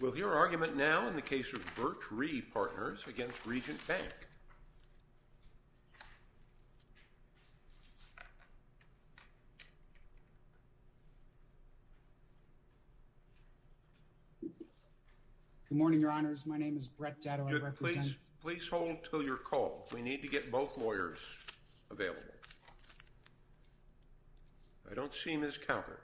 We'll hear argument now in the case of Birch REA Partners, Inc. v. Regent Bank. Good morning, Your Honors. My name is Brett Datto. I represent... Good. Please hold until your call. We need to get both lawyers available. I don't see Ms. Calger.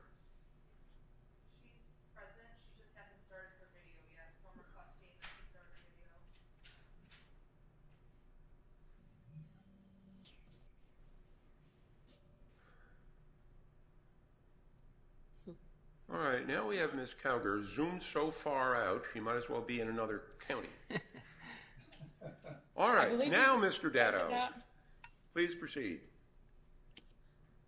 All right. Now we have Ms. Calger zoomed so far out, she might as well be in another county. All right. Now, Mr. Datto, please proceed.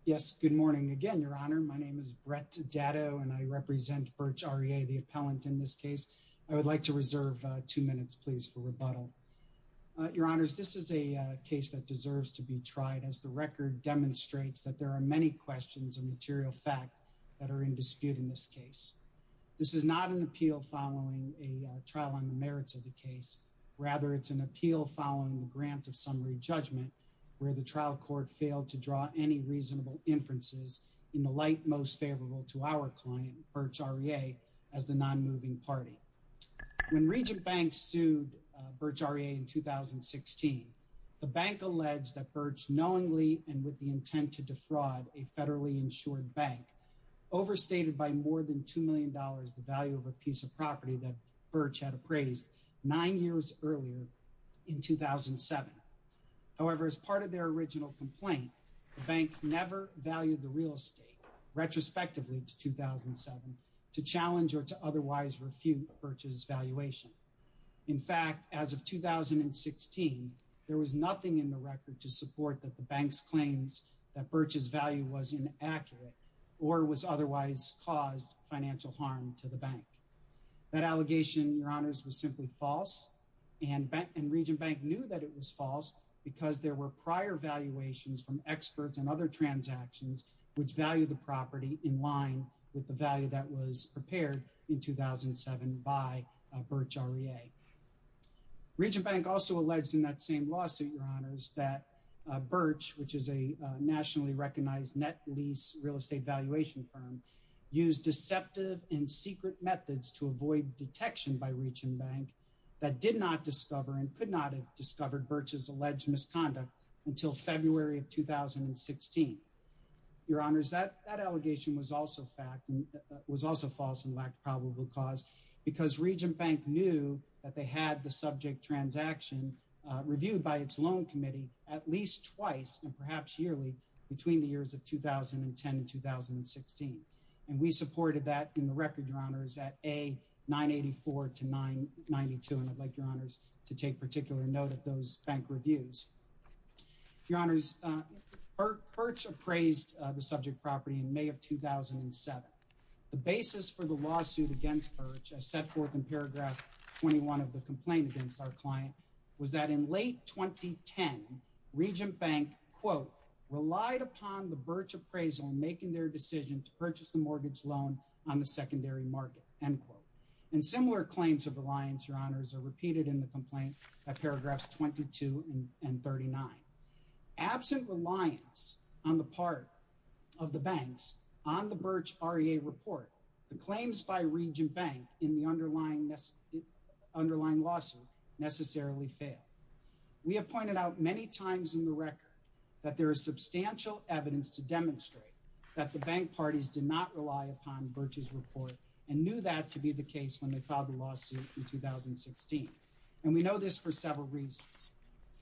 Yes. Good morning again, Your Honor. My name is Brett Datto, and I represent Birch REA, the appellant in this case. I would like to reserve two minutes, please, for rebuttal. Your Honors, this is a case that deserves to be tried as the record demonstrates that there are many questions of material fact that are in dispute in this case. This is not an appeal following a trial on the merits of the case. Rather, it's an appeal following a grant of summary judgment where the trial court failed to draw any reasonable inferences in the light most favorable to our client, Birch REA, as the non-moving party. When Regent Banks sued Birch REA in 2016, the bank alleged that Birch knowingly and with the intent to defraud a federally insured bank overstated by more than $2 million the value of a piece of property that Birch had appraised nine years earlier in 2007. However, as part of their original complaint, the bank never valued the real estate retrospectively to 2007 to challenge or to otherwise refute Birch's valuation. In fact, as of 2016, there was nothing in the record to support that the bank's claims that Birch's value was inaccurate or was otherwise caused financial harm to the bank. That allegation, your honors, was simply false and Regent Bank knew that it was false because there were prior valuations from experts and other transactions which value the property in line with the value that was prepared in 2007 by Birch REA. Regent Bank also alleged in that same lawsuit, your honors, that Birch, which is a nationally recognized net lease real estate valuation firm, used deceptive and secret methods to avoid detection by Regent Bank that did not discover and could not have discovered Birch's alleged misconduct until February of 2016. Your honors, that allegation was also false and lacked probable cause because Regent Bank knew that they had the subject transaction reviewed by its loan committee at least twice and perhaps yearly between the years of 2010 and 2016. And we supported that in the record, your honors, at A, 984 to 992. And I'd like your honors to take particular note of those bank reviews. Your honors, Birch appraised the subject property in May of 2007. The basis for the lawsuit against Birch, as set forth in paragraph 21 of the complaint against our client, was that in late 2010, Regent Bank, quote, relied upon the Birch appraisal making their decision to purchase the mortgage loan on the secondary market, end quote. And similar claims of reliance, your honors, are repeated in the complaint at paragraphs 22 and 39. Absent reliance on the part of the banks on the Birch REA report, the claims by Regent Bank in the underlying lawsuit necessarily failed. We have pointed out many times in the record that there is substantial evidence to demonstrate that the bank parties did not rely upon Birch's report and knew that to be the case when they filed the lawsuit in 2016. And we know this for several reasons.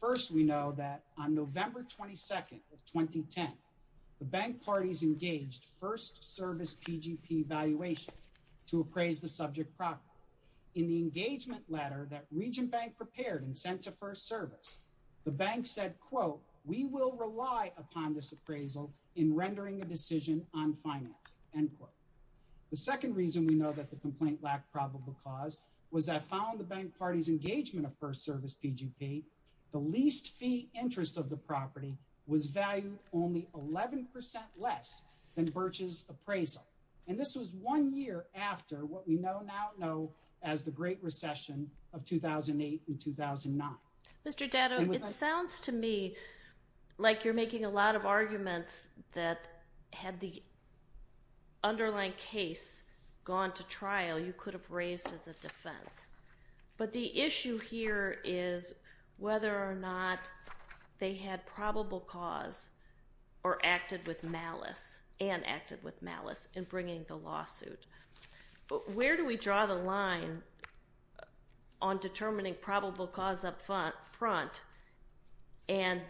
First, we know that on November 22nd of 2010, the bank parties engaged first service PGP valuation to appraise the subject property. In the engagement letter that Regent Bank prepared and sent to first service, the bank said, quote, we will rely upon this appraisal in rendering a decision on finance, end quote. The second reason we know that the complaint lacked probable cause was that following the bank parties engagement of first service PGP, the least fee interest of the property was valued only 11% less than Birch's appraisal. And this was one year after what we now know as the Great Recession of 2008 and 2009. Mr. Datto, it sounds to me like you're making a lot of arguments that had the underlying case gone to trial, you could have raised as a defense. But the issue here is whether or not they had probable cause or acted with malice and acted with malice in bringing the lawsuit. Where do we draw the line on determining probable cause up front and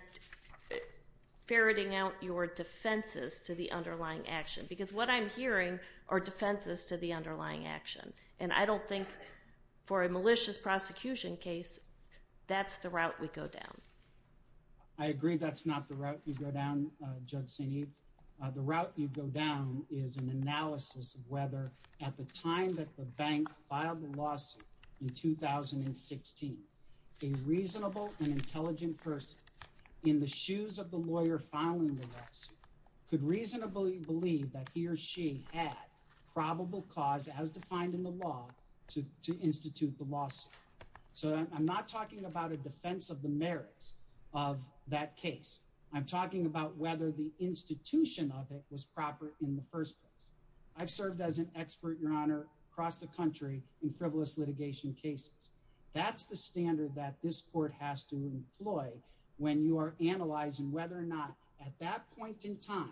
ferreting out your defenses to the underlying action? Because what I'm hearing are defenses to the underlying action. And I don't think for a malicious prosecution case, that's the route we go down. I agree that's not the route you go down, Judge Sinead. The route you go down is an analysis of whether at the time that the bank filed the lawsuit in 2016, a reasonable and intelligent person in the shoes of the lawyer filing the lawsuit could reasonably believe that he or she had probable cause as defined in the law to institute the lawsuit. So I'm not talking about a defense of the merits of that case. I'm talking about whether the institution of it was proper in the first place. I've served as an expert, Your Honor, across the country in frivolous litigation cases. That's the standard that this court has to employ when you are analyzing whether or not at that point in time,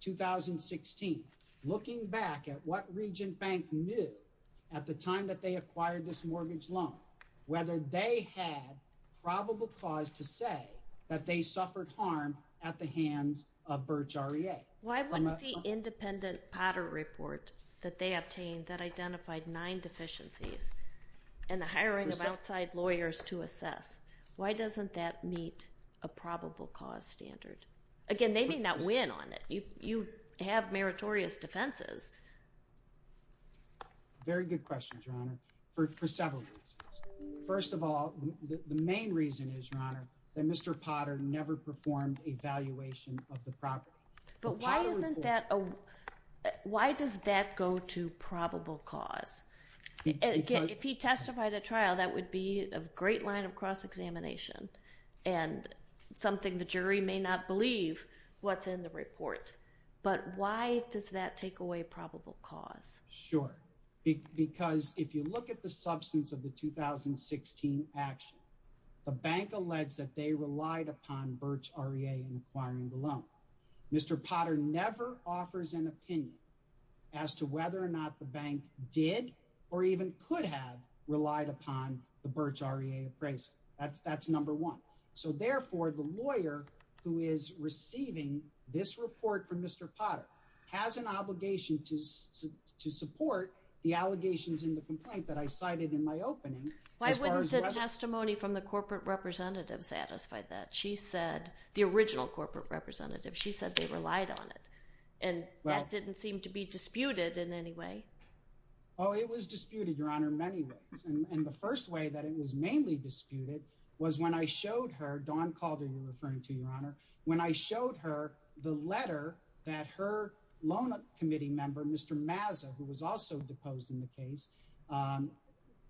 2016, looking back at what Regent Bank knew at the time that they acquired this mortgage loan, whether they had probable cause to say that they suffered harm at the hands of Birch REA. Why wouldn't the independent Potter report that they obtained that identified nine deficiencies and the hiring of outside lawyers to assess, why doesn't that meet a probable cause standard? Again, they may not win on it. You have meritorious defenses. Very good question, Your Honor, for several reasons. First of all, the main reason is, Your Honor, that Mr. Potter never performed a valuation of the property. But why doesn't that, why does that go to probable cause? If he testified at trial, that would be a great line of cross-examination and something the jury may not believe what's in the report. But why does that take away probable cause? Sure. Because if you look at the substance of the 2016 action, the bank alleged that they relied upon Birch REA in acquiring the loan. Mr. Potter never offers an opinion as to whether or not the bank did or even could have relied upon the Birch REA appraisal. That's number one. So therefore, the lawyer who is receiving this report from Mr. Potter has an obligation to support the allegations in the complaint that I cited in my opening. Why wouldn't the testimony from the corporate representative satisfy that? She said, the original corporate representative, she said they relied on it. And that didn't seem to be disputed in any way. Oh, it was disputed, Your Honor, in many ways. And the first way that it was mainly disputed was when I showed her, Dawn Calder you're referring to, Your Honor, when I showed her the letter that her loan committee member, Mr. Mazza, who was also deposed in the case,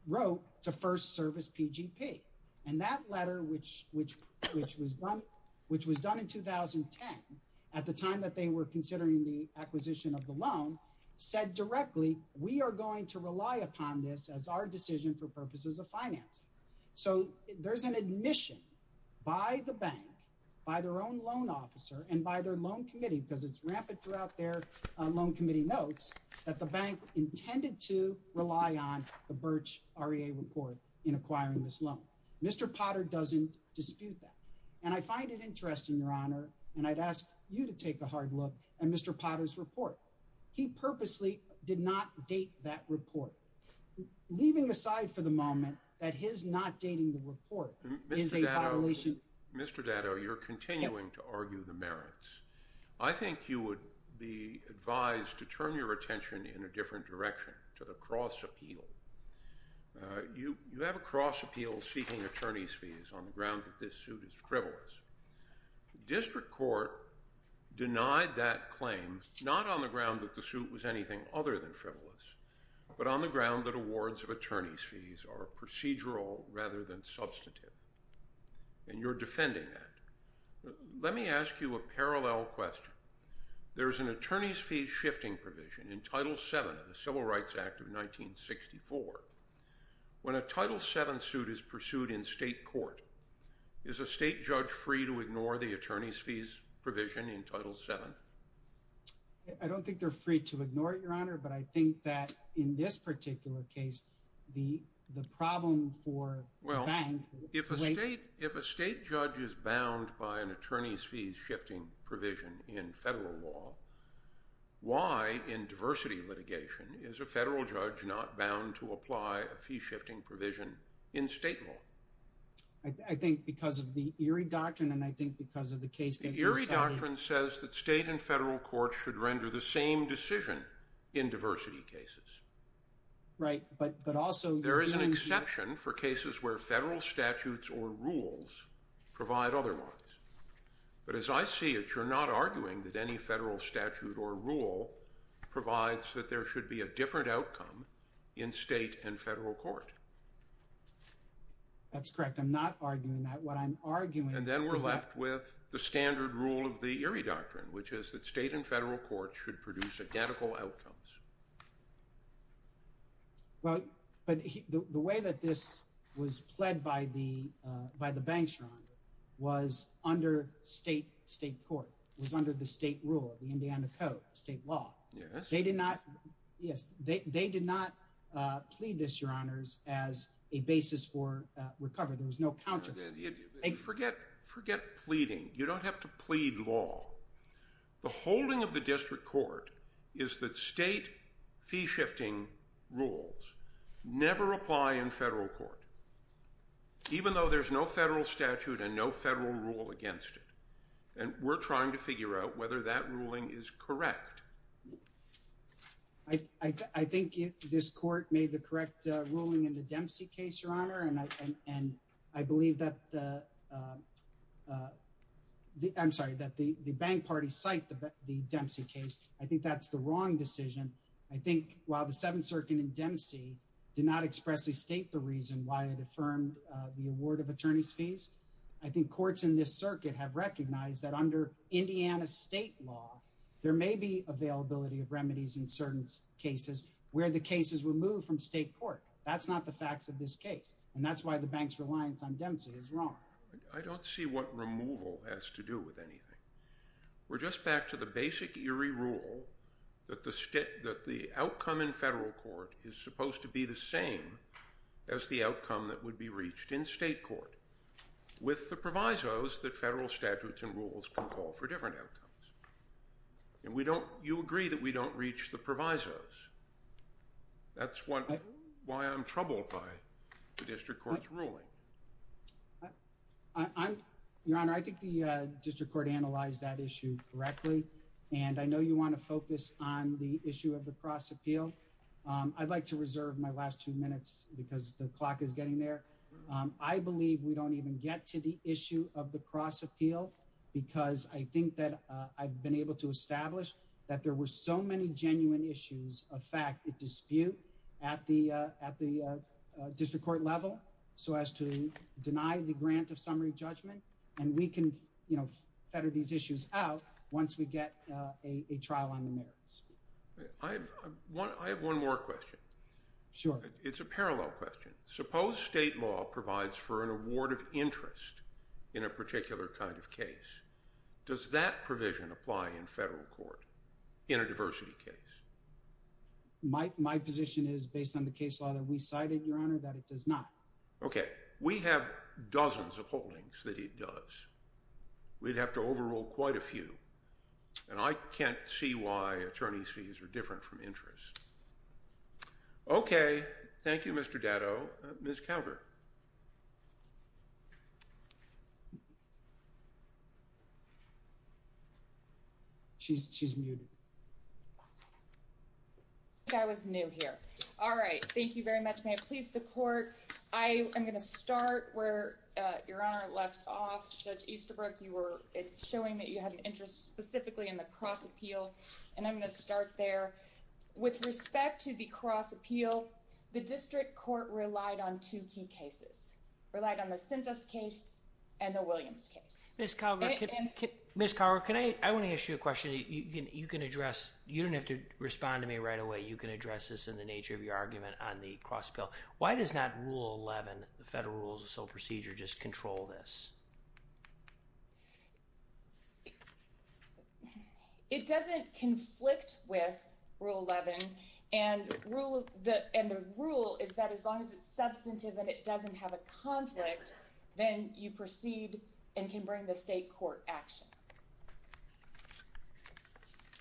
wrote to First Service PGP. And that letter, which was done in 2010 at the time that they were considering the acquisition of the loan, said directly, we are going to rely upon this as our decision for purposes of financing. So there's an admission by the bank, by their own loan officer, and by their loan committee, because it's rampant throughout their loan committee notes, that the bank intended to rely on the Birch REA report in acquiring this loan. Mr. Potter doesn't dispute that. And I find it interesting, Your Honor, and I'd ask you to take a hard look at Mr. Potter's report. He purposely did not date that report, leaving aside for the moment that his not dating the report is a violation. Mr. Datto, you're continuing to argue the merits. I think you would be advised to turn your attention in a different direction to the cross appeal. You have a cross appeal seeking attorney's fees on the ground that this suit is frivolous. District Court denied that claim, not on the ground that the suit was anything other than frivolous, but on the ground that awards of attorney's fees are procedural rather than substantive. And you're defending that. Let me ask you a parallel question. There's an attorney's fees shifting provision in Title VII of the Civil Rights Act of 1964. When a Title VII suit is pursued in state court, is a state judge free to ignore the attorney's fees provision in Title VII? I don't think they're free to ignore it, Your Honor, but I think that in this particular case, the problem for the bank— If a state judge is bound by an attorney's fees shifting provision in federal law, why in diversity litigation is a federal judge not bound to apply a fee shifting provision in state law? I think because of the Erie Doctrine, and I think because of the case that you cited— The Erie Doctrine says that state and federal courts should render the same decision in diversity cases. Right, but also— for cases where federal statutes or rules provide otherwise. But as I see it, you're not arguing that any federal statute or rule provides that there should be a different outcome in state and federal court. That's correct. I'm not arguing that. What I'm arguing is that— And then we're left with the standard rule of the Erie Doctrine, which is that state and federal courts should produce identical outcomes. Well, but the way that this was pled by the bank, Your Honor, was under state court, was under the state rule of the Indiana Code, state law. Yes. They did not—yes, they did not plead this, Your Honors, as a basis for recovery. There was no counter— Forget pleading. You don't have to plead law. The holding of the district court is that state fee-shifting rules never apply in federal court, even though there's no federal statute and no federal rule against it. And we're trying to figure out whether that ruling is correct. I think this court made the correct ruling in the Dempsey case, Your Honor, and I believe that the—I'm sorry, that the bank party cited the Dempsey case. I think that's the wrong decision. I think while the Seventh Circuit in Dempsey did not expressly state the reason why it affirmed the award of attorney's fees, I think courts in this circuit have recognized that under Indiana state law, there may be availability of remedies in certain cases where the case is removed from state court. That's not the facts of this case, and that's why the bank's reliance on Dempsey is wrong. I don't see what removal has to do with anything. We're just back to the basic eerie rule that the outcome in federal court is supposed to be the same as the outcome that would be reached in state court, with the provisos that federal statutes and rules can call for different outcomes. And we don't—you agree that we don't reach the provisos. That's why I'm troubled by the district court's ruling. Your Honor, I think the district court analyzed that issue correctly, and I know you want to focus on the issue of the cross appeal. I'd like to reserve my last two minutes because the clock is getting there. I believe we don't even get to the issue of the cross appeal because I think that I've been able to establish that there were so many genuine issues of fact that dispute at the district court level so as to deny the grant of summary judgment, and we can, you know, better these issues out once we get a trial on the merits. I have one more question. Sure. It's a parallel question. Suppose state law provides for an award of interest in a particular kind of case. Does that provision apply in federal court in a diversity case? My position is, based on the case law that we cited, Your Honor, that it does not. Okay. We have dozens of holdings that it does. We'd have to overrule quite a few, and I can't see why attorney's fees are different from interest. Okay. Thank you, Mr. Datto. Ms. Calder. She's muted. I think I was new here. All right. Thank you very much. May it please the court. I am going to start where Your Honor left off. Judge Easterbrook, you were showing that you had an interest specifically in the cross appeal, and I'm going to start there. With respect to the cross appeal, the district court relied on two key cases, relied on the Sintas case and the Williams case. Ms. Calder, I want to ask you a question that you can address. You don't have to respond to me right away. You can address this in the nature of your argument on the cross appeal. Why does not Rule 11, the Federal Rules of Sole Procedure, just control this? It doesn't conflict with Rule 11, and the rule is that as long as it's substantive and it doesn't have a conflict, then you proceed and can bring the state court action.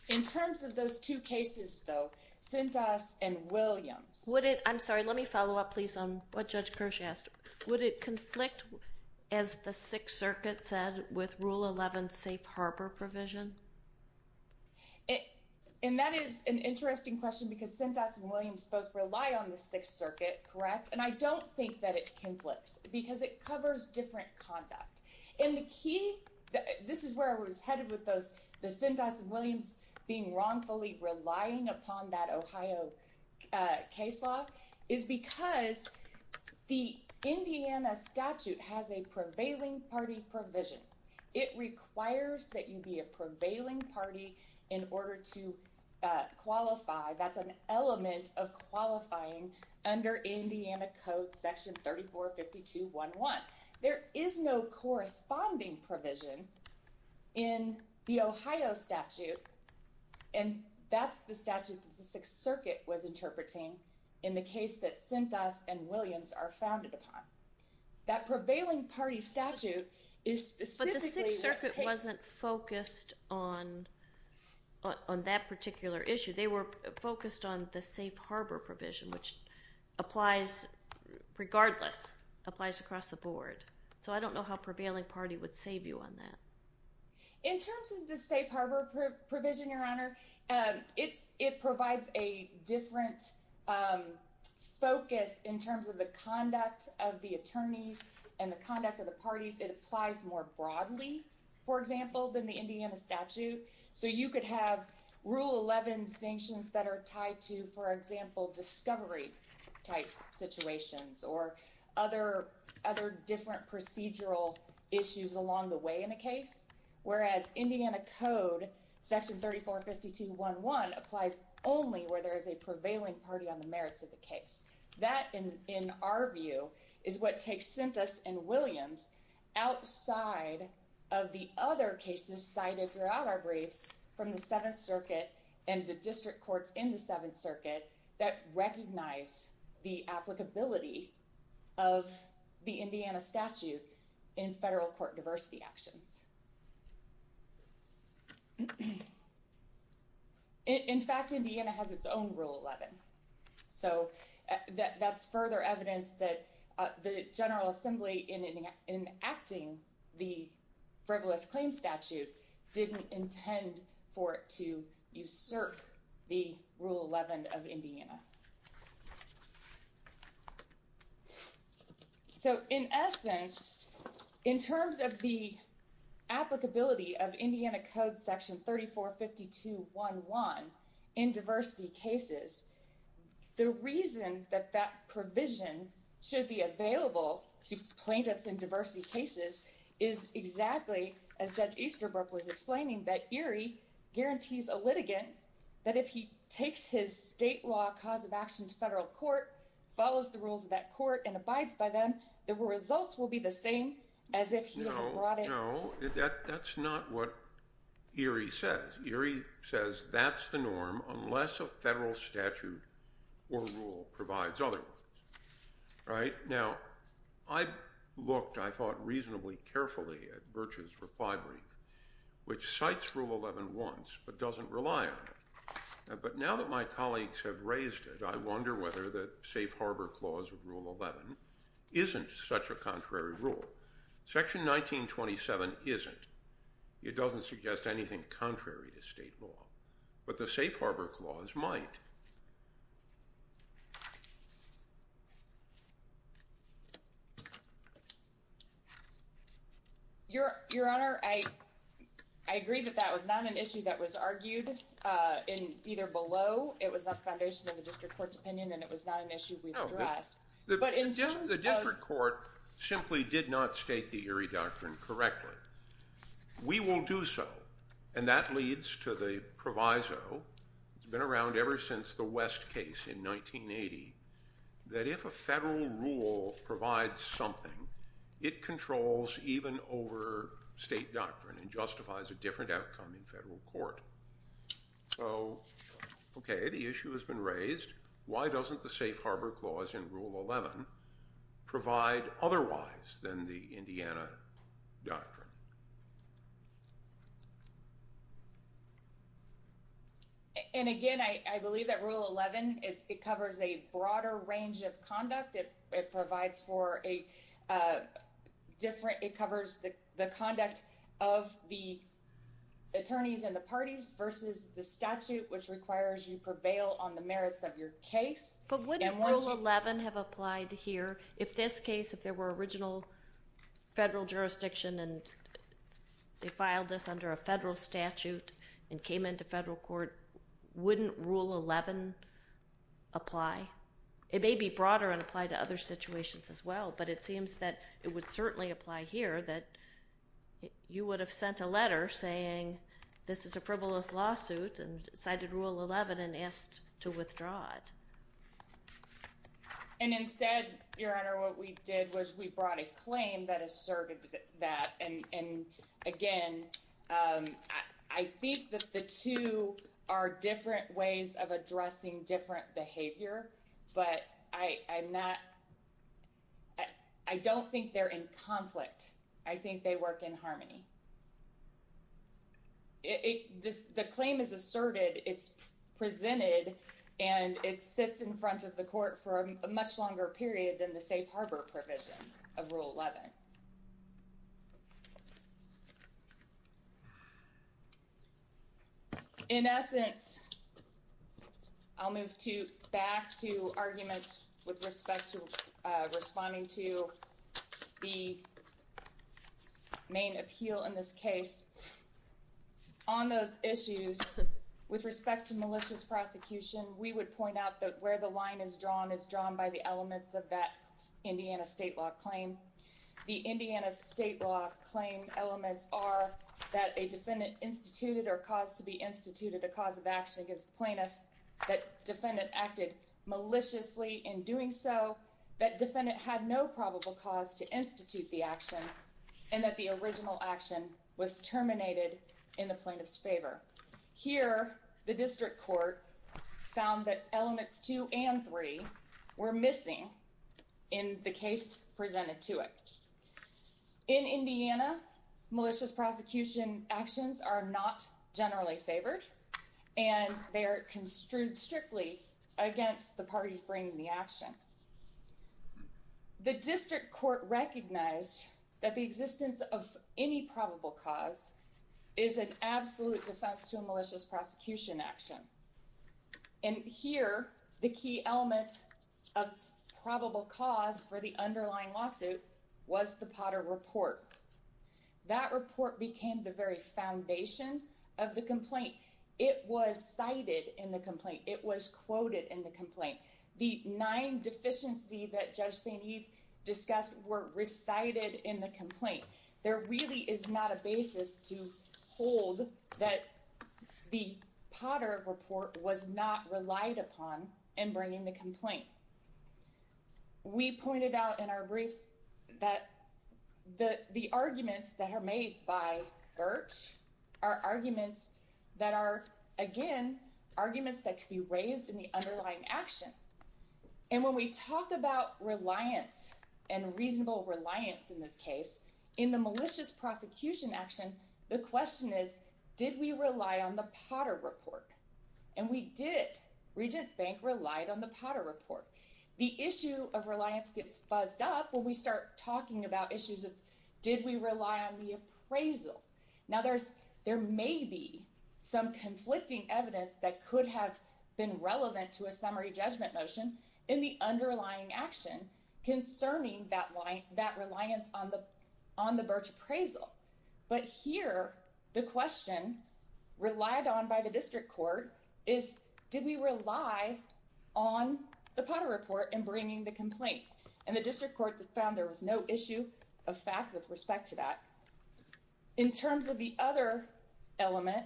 In terms of those two cases, though, Sintas and Williams. I'm sorry. Let me follow up, please, on what Judge Kirsch asked. Would it conflict, as the Sixth Circuit said, with Rule 11's safe harbor provision? And that is an interesting question because Sintas and Williams both rely on the Sixth Circuit, correct? And I don't think that it conflicts because it covers different conduct. And the key, this is where I was headed with those Sintas and Williams being wrongfully relying upon that Ohio case law, is because the Indiana statute has a prevailing party provision. It requires that you be a prevailing party in order to qualify. That's an element of qualifying under Indiana Code Section 345211. There is no corresponding provision in the Ohio statute, and that's the statute that the Sixth Circuit was interpreting in the case that Sintas and Williams are founded upon. That prevailing party statute is specifically— But the Sixth Circuit wasn't focused on that particular issue. They were focused on the safe harbor provision, which applies—regardless, applies across the board. So I don't know how prevailing party would save you on that. In terms of the safe harbor provision, Your Honor, it provides a different focus in terms of the conduct of the attorneys and the conduct of the parties. It applies more broadly, for example, than the Indiana statute. So you could have Rule 11 sanctions that are tied to, for example, discovery-type situations or other different procedural issues along the way in a case, whereas Indiana Code Section 345211 applies only where there is a prevailing party on the merits of the case. That, in our view, is what takes Sintas and Williams outside of the other cases cited throughout our briefs from the Seventh Circuit and the district courts in the Seventh Circuit that recognize the applicability of the Indiana statute in federal court diversity actions. In fact, Indiana has its own Rule 11. So that's further evidence that the General Assembly, in enacting the frivolous claims statute, didn't intend for it to usurp the Rule 11 of Indiana. So, in essence, in terms of the applicability of Indiana Code Section 345211 in diversity cases, the reason that that provision should be available to plaintiffs in diversity cases is exactly as Judge Easterbrook was explaining, that Erie guarantees a litigant that if he takes his state law cause of action to federal court, follows the rules of that court, and abides by them, the results will be the same as if he had brought it... No, no, that's not what Erie says. Erie says that's the norm unless a federal statute or rule provides otherwise. Now, I looked, I thought, reasonably carefully at Birch's reply brief, which cites Rule 11 once but doesn't rely on it. But now that my colleagues have raised it, I wonder whether the Safe Harbor Clause of Rule 11 isn't such a contrary rule. Section 1927 isn't. It doesn't suggest anything contrary to state law. But the Safe Harbor Clause might. Your Honor, I agree that that was not an issue that was argued in either below, it was not the foundation of the district court's opinion, and it was not an issue we addressed. The district court simply did not state the Erie Doctrine correctly. We will do so. And that leads to the proviso. It's been around ever since the Civil War. It's been around ever since the West case in 1980, that if a federal rule provides something, it controls even over state doctrine and justifies a different outcome in federal court. So, okay, the issue has been raised. Why doesn't the Safe Harbor Clause in Rule 11 provide otherwise than the Indiana Doctrine? Your Honor. And again, I believe that Rule 11, it covers a broader range of conduct. It provides for a different, it covers the conduct of the attorneys and the parties versus the statute, which requires you prevail on the merits of your case. But wouldn't Rule 11 have applied here if this case, if there were original federal jurisdiction and they filed this under a federal statute and came into federal court, wouldn't Rule 11 apply? It may be broader and apply to other situations as well, but it seems that it would certainly apply here that you would have sent a letter saying, this is a frivolous lawsuit and cited Rule 11 and asked to withdraw it. And instead, Your Honor, what we did was we brought a claim that asserted that. And again, I think that the two are different ways of addressing different behavior, but I'm not, I don't think they're in conflict. I think they work in harmony. The claim is asserted, it's presented, and it sits in front of the court for a much longer period than the safe harbor provisions of Rule 11. In essence, I'll move back to arguments with respect to responding to the main appeal in this case. On those issues, with respect to malicious prosecution, we would point out that where the line is drawn is drawn by the elements of that Indiana state law claim. The Indiana state law claim elements are that a defendant instituted or caused to be instituted a cause of action against the plaintiff, that defendant acted maliciously in doing so, that defendant had no probable cause to institute the action, and that the original action was terminated in the plaintiff's favor. Here, the district court found that elements two and three were missing in the case presented to it. In Indiana, malicious prosecution actions are not generally favored, and they are construed strictly against the parties bringing the action. The district court recognized that the existence of any probable cause is an absolute defense to a malicious prosecution action. And here, the key element of probable cause for the underlying lawsuit was the Potter report. That report became the very foundation of the complaint. It was cited in the complaint. It was quoted in the complaint. The nine deficiencies that Judge St. Eve discussed were recited in the complaint. There really is not a basis to hold that the Potter report was not relied upon in bringing the complaint. We pointed out in our briefs that the arguments that are made by Birch are arguments that are, again, arguments that could be raised in the underlying action. And when we talk about reliance and reasonable reliance in this case, in the malicious prosecution action, the question is, did we rely on the Potter report? And we did. Regent Bank relied on the Potter report. The issue of reliance gets buzzed up when we start talking about issues of, did we rely on the appraisal? Now, there may be some conflicting evidence that could have been relevant to a summary judgment motion in the underlying action concerning that reliance on the Birch appraisal. But here, the question relied on by the district court is, did we rely on the Potter report in bringing the complaint? And the district court found there was no issue of fact with respect to that. In terms of the other element,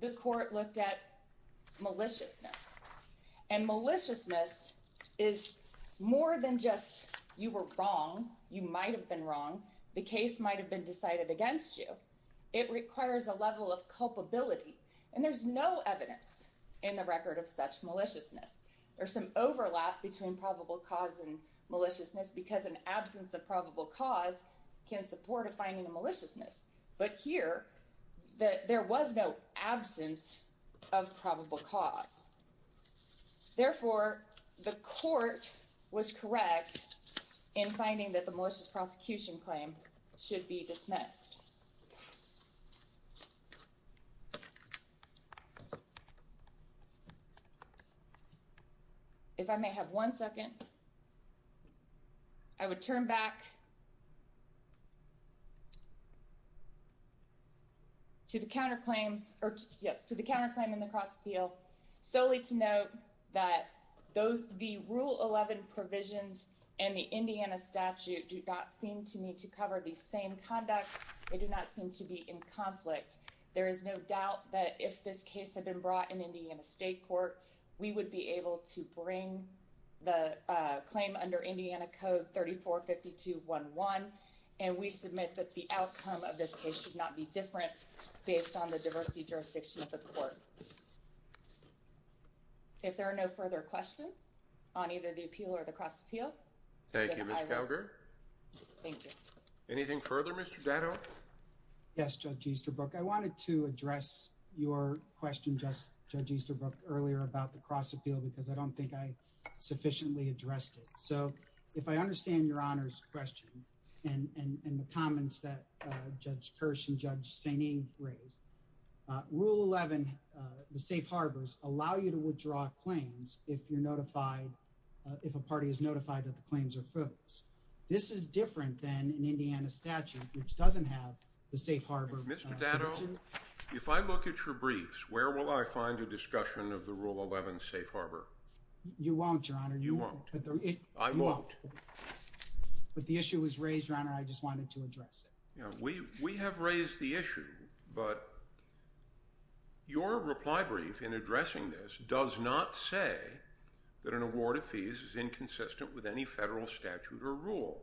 the court looked at maliciousness. And maliciousness is more than just, you were wrong, you might have been wrong, the case might have been decided against you. It requires a level of culpability. And there's no evidence in the record of such maliciousness. There's some overlap between probable cause and maliciousness because an absence of probable cause can support a finding of maliciousness. But here, there was no absence of probable cause. Therefore, the court was correct in finding that the malicious prosecution claim should be dismissed. Next. If I may have one second, I would turn back to the counterclaim, yes, to the counterclaim in the cross appeal, solely to note that the Rule 11 provisions in the Indiana statute do not seem to need to cover the same conduct. They do not seem to be in conflict. There is no doubt that if this case had been brought in Indiana State Court, we would be able to bring the claim under Indiana Code 345211. And we submit that the outcome of this case should not be different based on the diversity jurisdiction of the court. If there are no further questions on either the appeal or the cross appeal. Thank you, Ms. Calgary. Thank you. Anything further, Mr. Datto? Yes, Judge Easterbrook. I wanted to address your question, Judge Easterbrook, earlier about the cross appeal because I don't think I sufficiently addressed it. So, if I understand Your Honor's question and the comments that Judge Kirsch and Judge Saini raised, Rule 11, the safe harbors, allow you to withdraw claims if you're notified, if a party is notified that the claims are frivolous. This is different than an Indiana statute which doesn't have the safe harbor provision. Mr. Datto, if I look at your briefs, where will I find a discussion of the Rule 11 safe harbor? You won't, Your Honor. You won't. I won't. But the issue was raised, Your Honor. I just wanted to address it. We have raised the issue, but your reply brief in addressing this does not say that an award of fees is inconsistent with any federal statute or rule.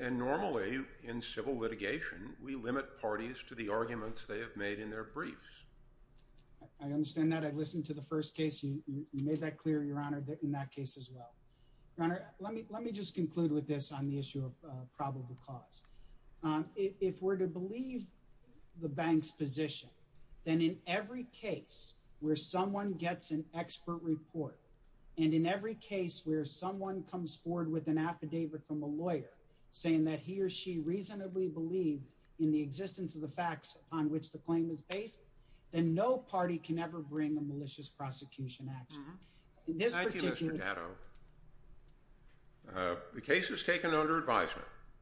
And normally, in civil litigation, we limit parties to the arguments they have made in their briefs. I understand that. I listened to the first case. You made that clear, Your Honor, in that case as well. Your Honor, let me just conclude with this on the issue of probable cause. If we're to believe the bank's position, then in every case where someone gets an expert report and in every case where someone comes forward with an affidavit from a lawyer saying that he or she reasonably believed in the existence of the facts on which the claim is based, then no party can ever bring a malicious prosecution action. Thank you, Mr. Gatto. The case is taken under advisement.